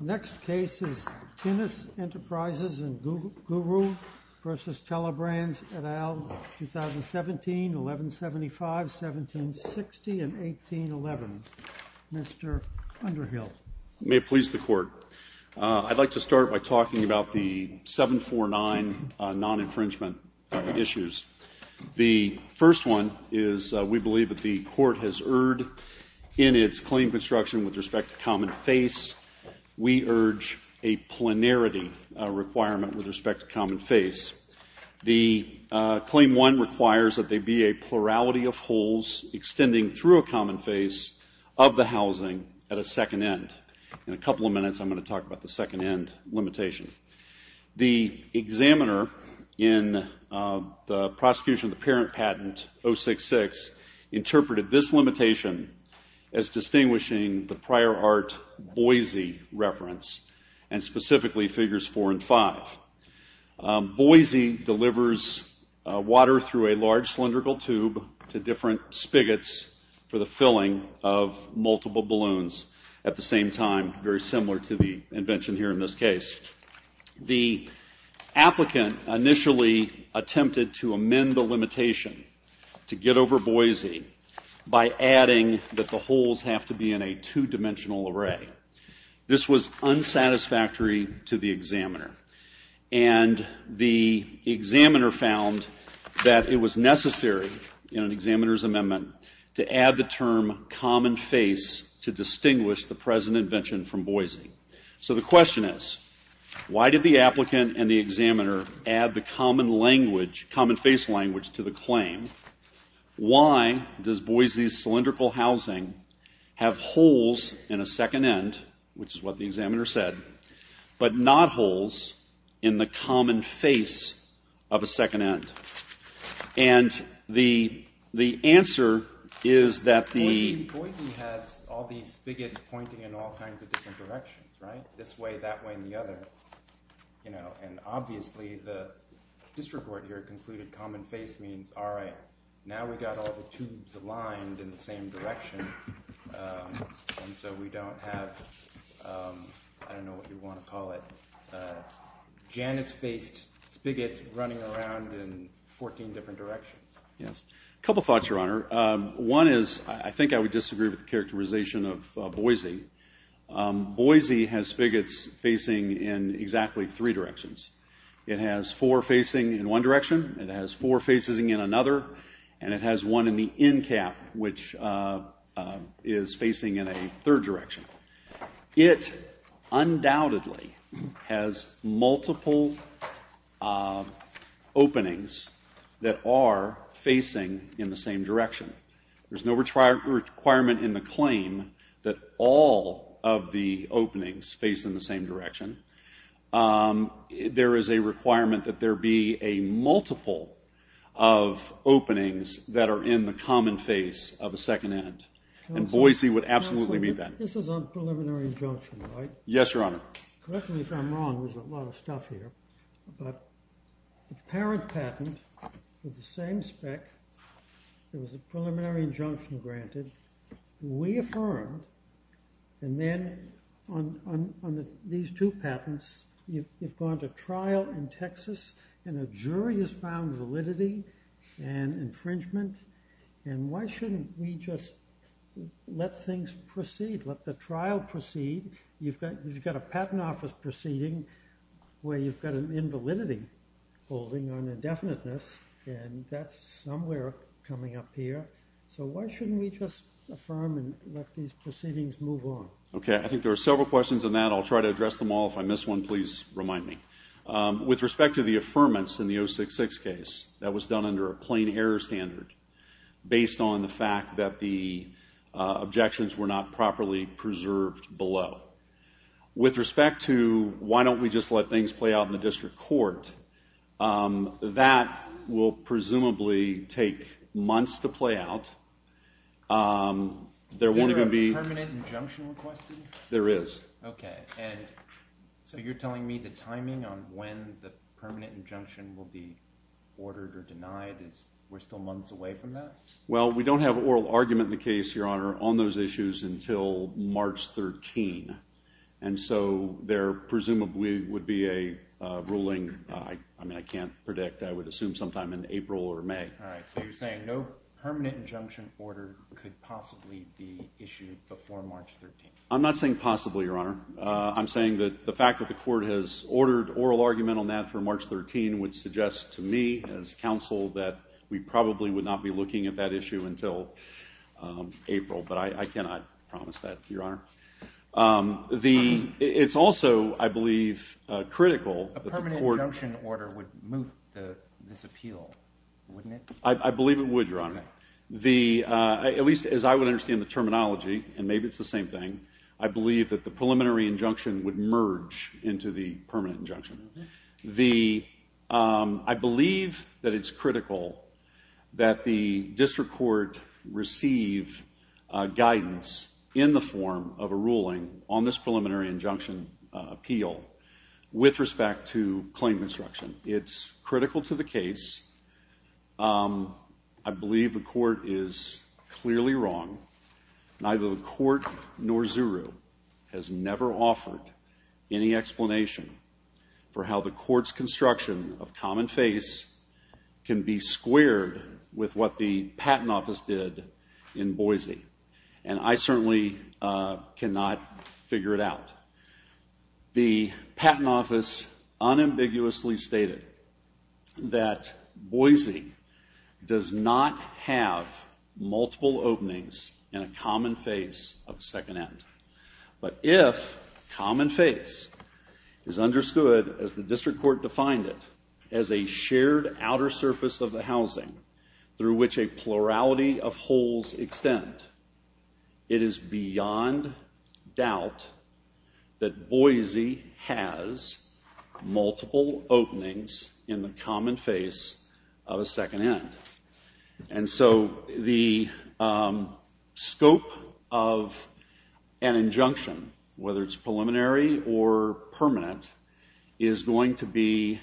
Next case is Tinnus Enterprises and Guru v. Telebrands, et al., 2017-11-17. May it please the Court. I'd like to start by talking about the 749 non-infringement issues. The first one is we believe that the Court has erred in its claim construction with respect to common face. We urge a planarity requirement with respect to common face. The extending through a common face of the housing at a second end. In a couple of minutes I'm going to talk about the second end limitation. The examiner in the prosecution of the parent patent 066 interpreted this limitation as distinguishing the prior art Boise reference and specifically figures four and five. Boise delivers water through a large cylindrical tube to different spigots for the filling of multiple balloons at the same time, very similar to the invention here in this case. The applicant initially attempted to amend the limitation to get over Boise by adding that the holes have to be in a two-dimensional array. This was unsatisfactory to the examiner. And the examiner found that it was necessary in an examiner's amendment to add the term common face to distinguish the present invention from Boise. So the question is, why did the applicant and the examiner add the common language, common face language, to the claim? Why does Boise's cylindrical housing have holes in a second end, which is what the examiner said, but not holes in the common face of a second end? And the answer is that the... Boise has all these spigots pointing in all kinds of different directions, right? This way, that way, and the other. And obviously the district court here concluded common face means, all right, now we've got all the tubes aligned in the same direction, and so we don't have, I don't know what you want to call it, Janus-faced spigots running around in 14 different directions. Yes. A couple thoughts, Your Honor. One is, I think I would disagree with the characterization of Boise. Boise has spigots facing in exactly three directions. It has four facing in one direction, it has four facing in another, and it has one in the end cap, which is facing in a third direction. It undoubtedly has multiple openings that are facing in the same direction. There's no requirement in the claim that all of the openings face in the same direction. There is a requirement that there be a multiple of openings that are in the common face of a second end, and Boise would absolutely meet that. This is a preliminary injunction, right? Yes, Your Honor. Correct me if I'm wrong, there's a lot of stuff here, but the parent patent with the same spec, there was a preliminary injunction granted. We affirmed, and then on these two patents, you've gone to trial in Texas, and a jury has found validity and infringement, and why shouldn't we just let things proceed, let the trial proceed? You've got a patent office proceeding where you've got an invalidity holding on indefiniteness, and that's somewhere coming up here, so why shouldn't we just affirm and let these proceedings move on? Okay, I think there are several questions in that, I'll try to address them all. If I miss one, please remind me. With respect to the affirmance in the 066 case, that was done under a plain error standard based on the fact that the objections were not properly preserved below. With respect to why don't we just let things play out in the district court, that will presumably take months to play out. Is there a permanent injunction requested? There is. Okay, and so you're telling me the timing on when the permanent injunction will be ordered or denied, we're still months away from that? Well, we don't have oral argument in the case, Your Honor, on those issues until March 13, and so there presumably would be a ruling, I mean I can't predict, I would assume sometime in April or May. All right, so you're saying no permanent injunction order could possibly be issued before March 13. I'm not saying possibly, Your Honor, I'm saying that the fact that the court has ordered oral argument on that for March 13 would suggest to me as counsel that we probably would not be looking at that issue until April, but I cannot promise that, Your Honor. It's also, I believe, critical A permanent injunction order would move this appeal, wouldn't it? I believe it would, Your Honor. At least as I would understand the terminology, and maybe it's the same thing, I believe that the preliminary injunction would merge into the permanent injunction. I believe that it's critical that the district court receive guidance in the form of a ruling on this preliminary injunction appeal with respect to claim construction. It's critical to the case. I believe the explanation for how the court's construction of common face can be squared with what the Patent Office did in Boise, and I certainly cannot figure it out. The Patent Office unambiguously stated that Boise does not have multiple openings in a common face is understood, as the district court defined it, as a shared outer surface of the housing through which a plurality of holes extend. It is beyond doubt that Boise has multiple openings in the common face of a second end. And so the scope of an injunction, whether it's preliminary or permanent, is going to be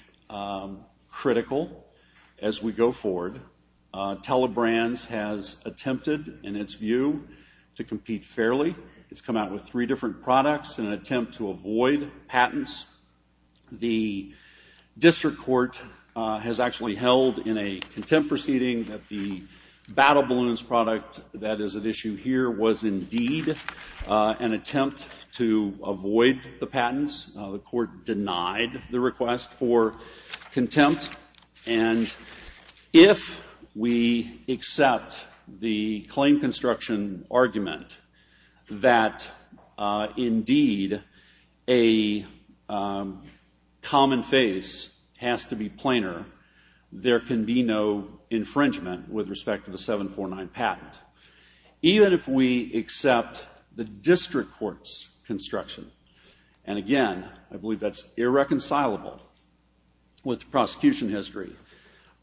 critical as we go forward. Telebrands has attempted, in its view, to compete fairly. It's come out with three different products in an attempt to avoid patents. The district court has actually held in a contempt proceeding that the Battle Balloons product that is at issue here was indeed an attempt to avoid the patents. The court denied the contempt. And if we accept the claim construction argument that, indeed, a common face has to be planar, there can be no infringement with respect to the 749 patent. Even if we accept the district court's construction, and again, I believe that's irreconcilable with prosecution history,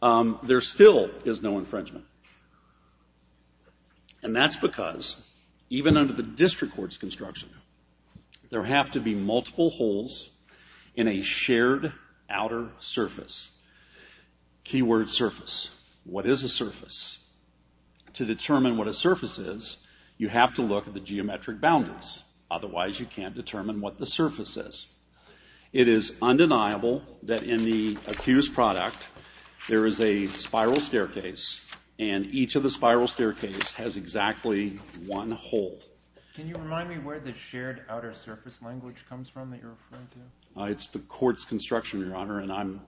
there still is no infringement. And that's because, even under the district court's construction, there have to be multiple holes in a shared outer surface. Key word, surface. What is a surface? To determine what a surface is, you have to look at the geometric boundaries. Otherwise, you can't determine what the surface is. It is undeniable that in the accused product, there is a spiral staircase, and each of the spiral staircases has exactly one surface. It's the court's construction, Your Honor, and I'm,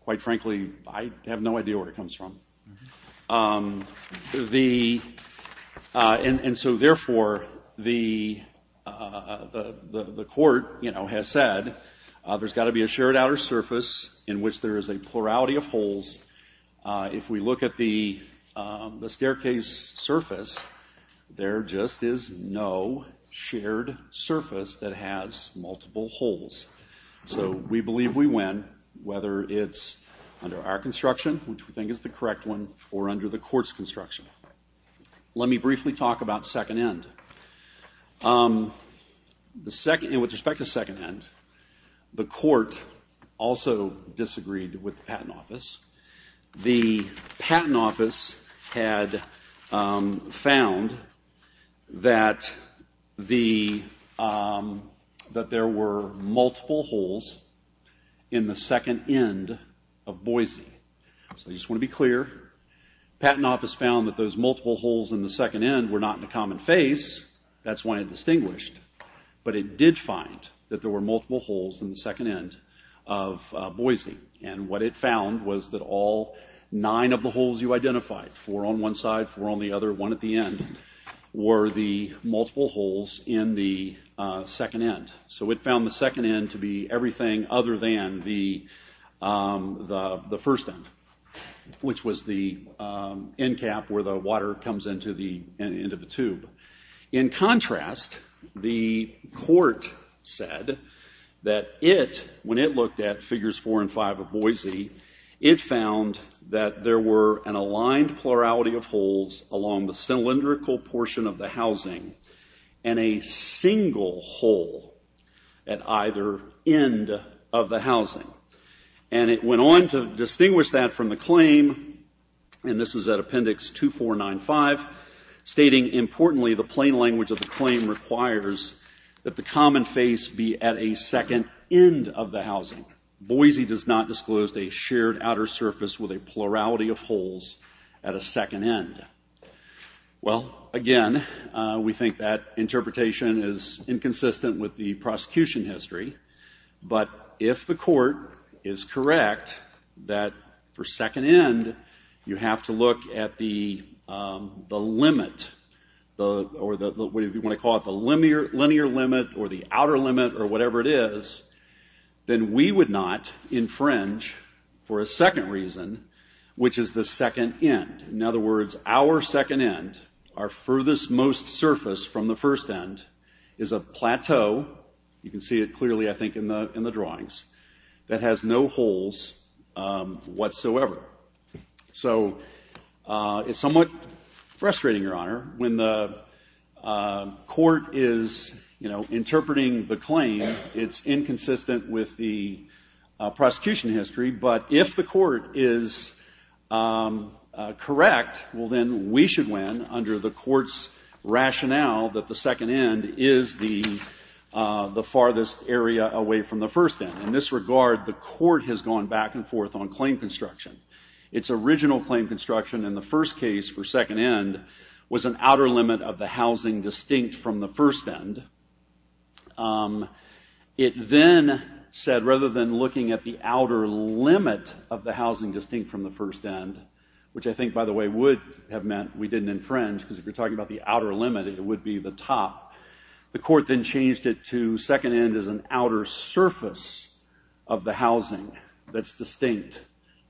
quite frankly, I have no idea where it comes from. And so, therefore, the court has said there's got to be a shared surface that has multiple holes. So, we believe we win, whether it's under our construction, which we think is the correct one, or under the court's construction. Let me briefly talk about second end. With respect to second end, the court also disagreed with the patent office. The patent office had found that there were multiple holes in the second end were not in a common face. That's why it distinguished. But it did find that there were multiple holes in the second end of Boise. And what it found was that all nine of the holes you identified, four on one side, four on the other, one at the end, were the multiple holes in the second end. So, it found the second end to be everything other than the first end, which was the end cap where the water comes into the tube. In contrast, the court said that it, when it looked at figures four and five of Boise, it found that there were an aligned plurality of holes along the cylindrical portion of the housing, and a single hole at either end of the housing. And it went on to distinguish that from the claim, and this is at Appendix 2495, stating, importantly, the plain language of the claim requires that the common face be at a second end of the housing. Boise does not disclose a shared outer surface with a plurality of holes at a second end. Well, again, we think that interpretation is inconsistent with the prosecution history. But if the court is correct that for second end, you have to look at the limit, or what do you want to call it, the linear limit, or the outer limit, or whatever it is, then we would not infringe for a second reason, which is the second end. In other words, our second end, our furthest most surface from the first end, is a plateau, you can see it clearly, I think, in the drawings, that has no holes whatsoever. So it's somewhat frustrating, Your Honor, when the court is, you know, interpreting the claim, it's inconsistent with the prosecution history. But if the court is correct, well, then we should win under the court's rationale that the second end is the farthest area away from the first end. In this regard, the court has gone back and forth on claim construction. Its original claim construction in the first case for second end was an outer limit of the housing distinct from the first end. It then said, rather than looking at the outer limit of the housing distinct from the first end, which I think, by the way, would have meant we didn't infringe, because if you're talking about the outer limit, it would be the top, the court then changed it to second end as an outer surface. Of the housing that's distinct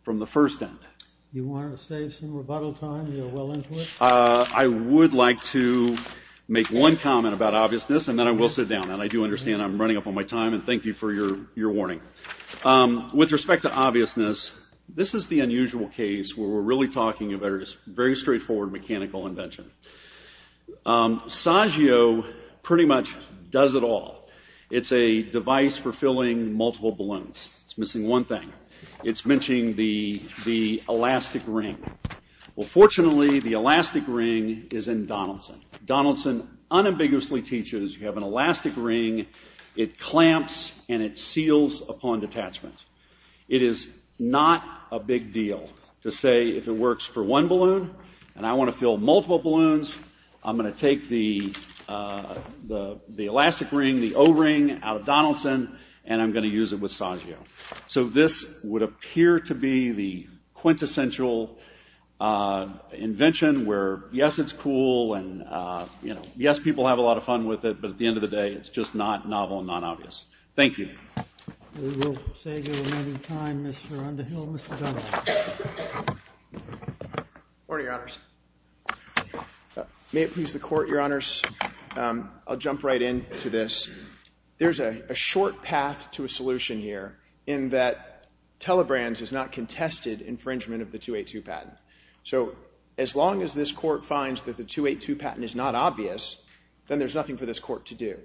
from the first end. You want to save some rebuttal time? You're well into it? I would like to make one comment about obviousness, and then I will sit down. And I do understand I'm running up on my time, and thank you for your warning. With respect to obviousness, this is the unusual case where we're really talking about a very straightforward mechanical invention. Saggio pretty much does it all. It's a device for filling multiple balloons. It's missing one thing. It's missing the elastic ring. Well, fortunately, the elastic ring is in Donaldson. Donaldson unambiguously teaches you have an elastic ring, it clamps, and it seals upon detachment. It is not a big deal to say if it works for one balloon, and I want to fill multiple balloons, I'm going to take the elastic ring, the O-ring, out of Donaldson, and I'm going to use it with Saggio. So this would appear to be the quintessential invention where, yes, it's cool, and yes, people have a lot of fun with it, but at the end of the day, it's just not novel and not obvious. Thank you. We will save you a little time, Mr. Underhill. Mr. Donaldson. Morning, Your Honors. May it please the Court, Your Honors. I'll jump right in to this. There's a short path to a solution here in that Telebrands has not contested infringement of the 282 patent. So as long as this Court finds that the 282 patent is not obvious, then there's nothing for this Court to do.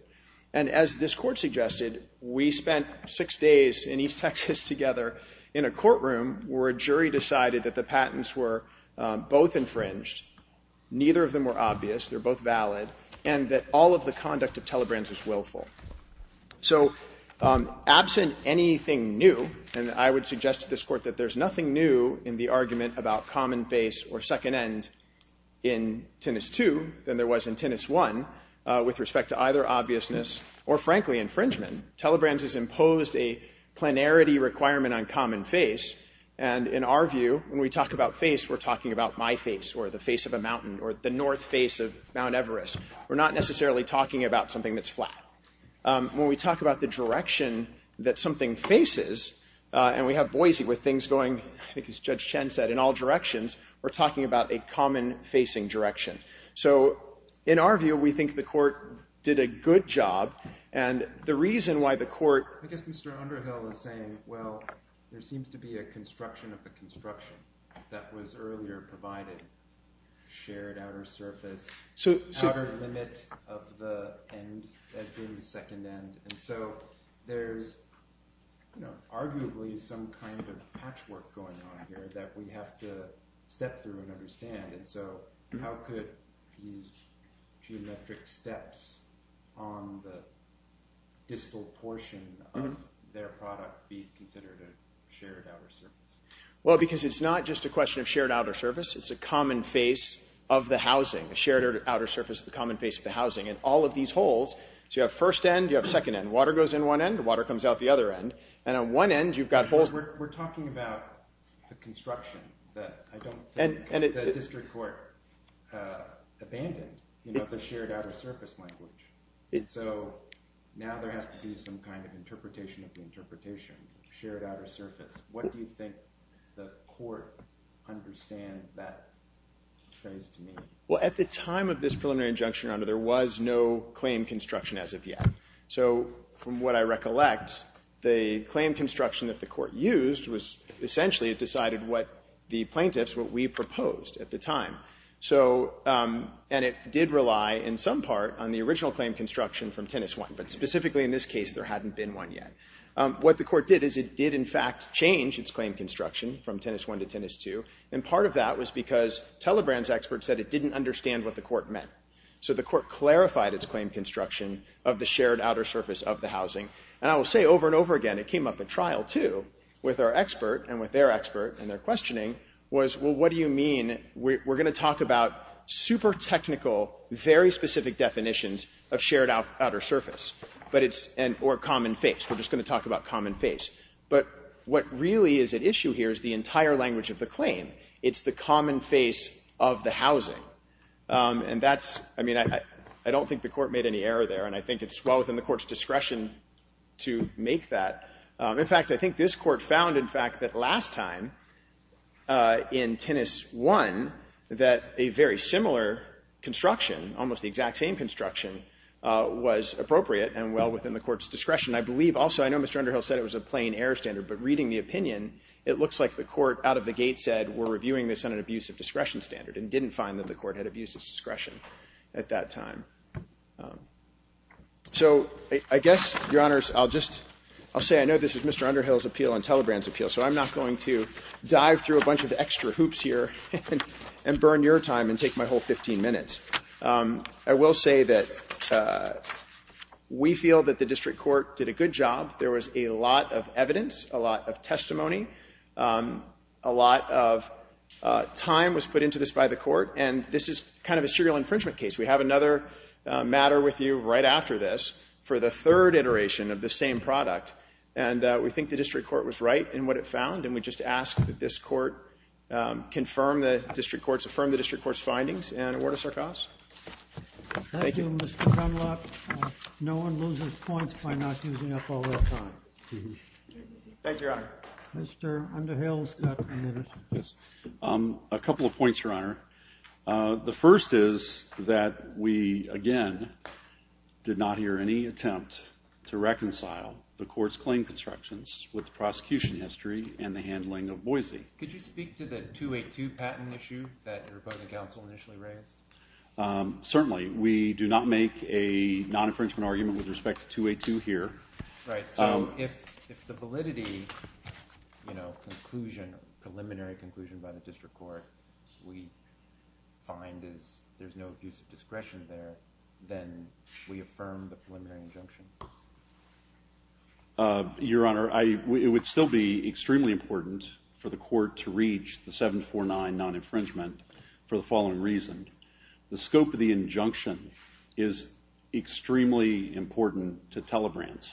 And as this Court suggested, we spent six days in East Texas together in a courtroom where a jury decided that the patents were both infringed, neither of them were obvious, they're both valid, and that all of the conduct of Telebrands is willful. So absent anything new, and I would suggest to this Court that there's nothing new in the argument about common face or second end in Tinnis II than there was in Tinnis I with respect to either obviousness or, frankly, infringement. Telebrands has imposed a planarity requirement on common face, and in our view, when we talk about face, we're talking about my face or the face of a mountain or the north face of Mount Everest. We're not necessarily talking about something that's flat. When we talk about the direction that something faces, and we have Boise with things going, I think as Judge Chen said, in all directions, we're talking about a common facing direction. So in our view, we think the Court did a good job, and the reason why the Court... Well, there seems to be a construction of the construction that was earlier provided, shared outer surface, outer limit of the end as being the second end, and so there's arguably some kind of patchwork going on here that we have to step through and understand. And so how could these geometric steps on the distal portion of their product be considered a shared outer surface? Well, because it's not just a question of shared outer surface. It's a common face of the housing, a shared outer surface of the common face of the housing, and all of these holes, so you have first end, you have second end. Water goes in one end. Water comes out the other end, and on one end, you've got holes. We're talking about the construction that the District Court abandoned, the shared outer surface language. And so now there has to be some kind of interpretation of the interpretation, shared outer surface. What do you think the Court understands that phrase to mean? Well, at the time of this preliminary injunction, Your Honor, there was no claim construction as of yet. So from what I recollect, the claim construction that the Court used was essentially it decided what the plaintiffs, what we proposed at the time. So, and it did rely in some part on the original claim construction from Tennis I, but specifically in this case, there hadn't been one yet. What the Court did is it did in fact change its claim construction from Tennis I to Tennis II, and part of that was because Telebran's expert said it didn't understand what the Court meant. So the Court clarified its claim construction of the shared outer surface of the housing, and I will say over and over again, it came up at trial, too, with our expert and with their expert, and their questioning was, well, what do you mean? We're going to talk about super technical, very specific definitions of shared outer surface, but it's, or common face. We're just going to talk about common face. But what really is at issue here is the entire language of the claim. It's the common face of the housing, and that's, I mean, I don't think the Court made any error there, and I think it's well within the Court's discretion to make that. In fact, I think this Court found, in fact, that last time in Tennis I that a very similar construction, almost the exact same construction, was appropriate and well within the Court's discretion. I believe also, I know Mr. Underhill said it was a plain error standard, but reading the opinion, it looks like the Court out of the gate said, we're reviewing this on an abuse of discretion standard, and didn't find that the Court had abuse of discretion at that time. So I guess, Your Honors, I'll just, I'll say I know this is Mr. Underhill's appeal and Telebran's appeal, so I'm not going to dive through a bunch of extra hoops here and burn your time and take my whole 15 minutes. I will say that we feel that the District Court did a good job. There was a lot of evidence, a lot of testimony, a lot of time was put into this by the Court, and this is kind of a serial infringement case. We have another matter with you right after this for the third iteration of the same product, and we think the District Court was right in what it found, and we just ask that this Court confirm the District Court's findings and award us our costs. Thank you, Mr. Dunlop. No one loses points by not using up all their time. Thank you, Your Honor. Mr. Underhill's got a minute. Thank you, Your Honor. The first is that we, again, did not hear any attempt to reconcile the Court's claim constructions with the prosecution history and the handling of Boise. Could you speak to the 282 patent issue that your opponent counsel initially raised? Certainly. We do not make a non-infringement argument with respect to 282 here. Right. So if the validity, you know, conclusion, preliminary conclusion by the District Court we find is there's no abuse of discretion there, then we affirm the preliminary injunction. Your Honor, it would still be extremely important for the Court to reach the 749 non-infringement for the following reason. The scope of the injunction is extremely important to Telebrands.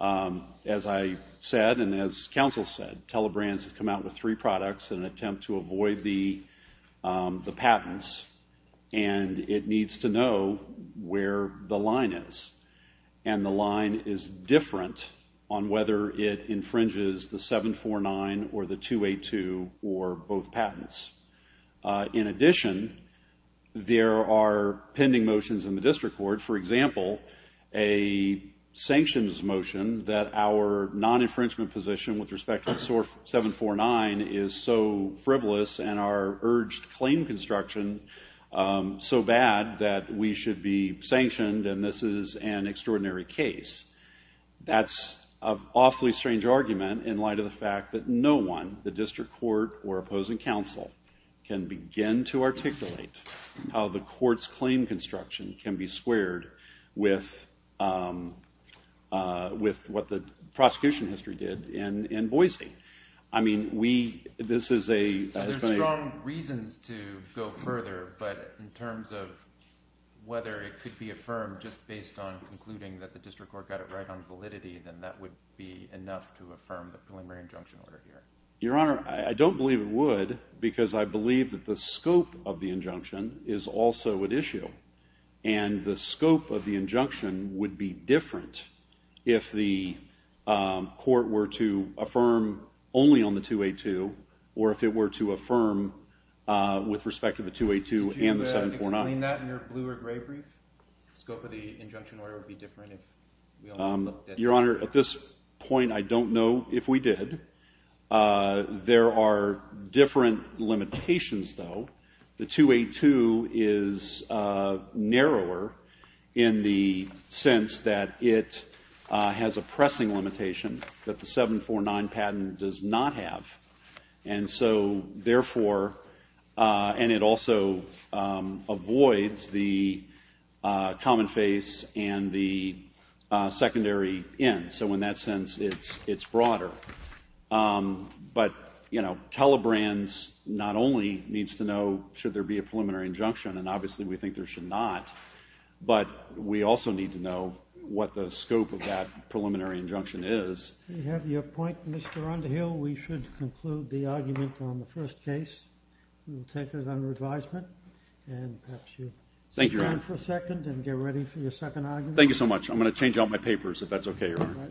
As I said and as counsel said, Telebrands has come out with three products in an attempt to avoid the patents, and it needs to know where the line is. And the line is different on whether it infringes the 749 or the 282 or both patents. In addition, there are pending motions in the District Court, for example, a sanctions motion that our non-infringement position with respect to 749 is so frivolous and our urged claim construction so bad that we should be sanctioned and this is an extraordinary case. That's an awfully strange argument in light of the fact that no one, the District Court or opposing counsel, can begin to articulate how the Court's claim construction can be squared with what the prosecution history did in Boise. There are strong reasons to go further, but in terms of whether it could be affirmed just based on concluding that the District Court got it right on validity, then that would be enough to affirm the preliminary injunction order here. Your Honor, I don't believe it would because I believe that the scope of the injunction is also at issue. And the scope of the injunction would be different if the Court were to affirm only on the 282 or if it were to affirm with respect to the 282 and the 749. Could you explain that in your blue or gray brief? The scope of the injunction order would be different if we only looked at... Your Honor, at this point I don't know if we did. There are different limitations, though. The 282 is narrower in the sense that it has a pressing limitation that the 749 patent does not have. And so, therefore, and it also avoids the common face and the secondary end. So in that sense, it's broader. But, you know, Telebrands not only needs to know should there be a preliminary injunction, and obviously we think there should not, but we also need to know what the scope of that preliminary injunction is. If you have your point, Mr. Underhill, we should conclude the argument on the first case. We'll take it under advisement, and perhaps you sit down for a second and get ready for your second argument. Thank you so much. I'm going to change out my papers, if that's okay, Your Honor.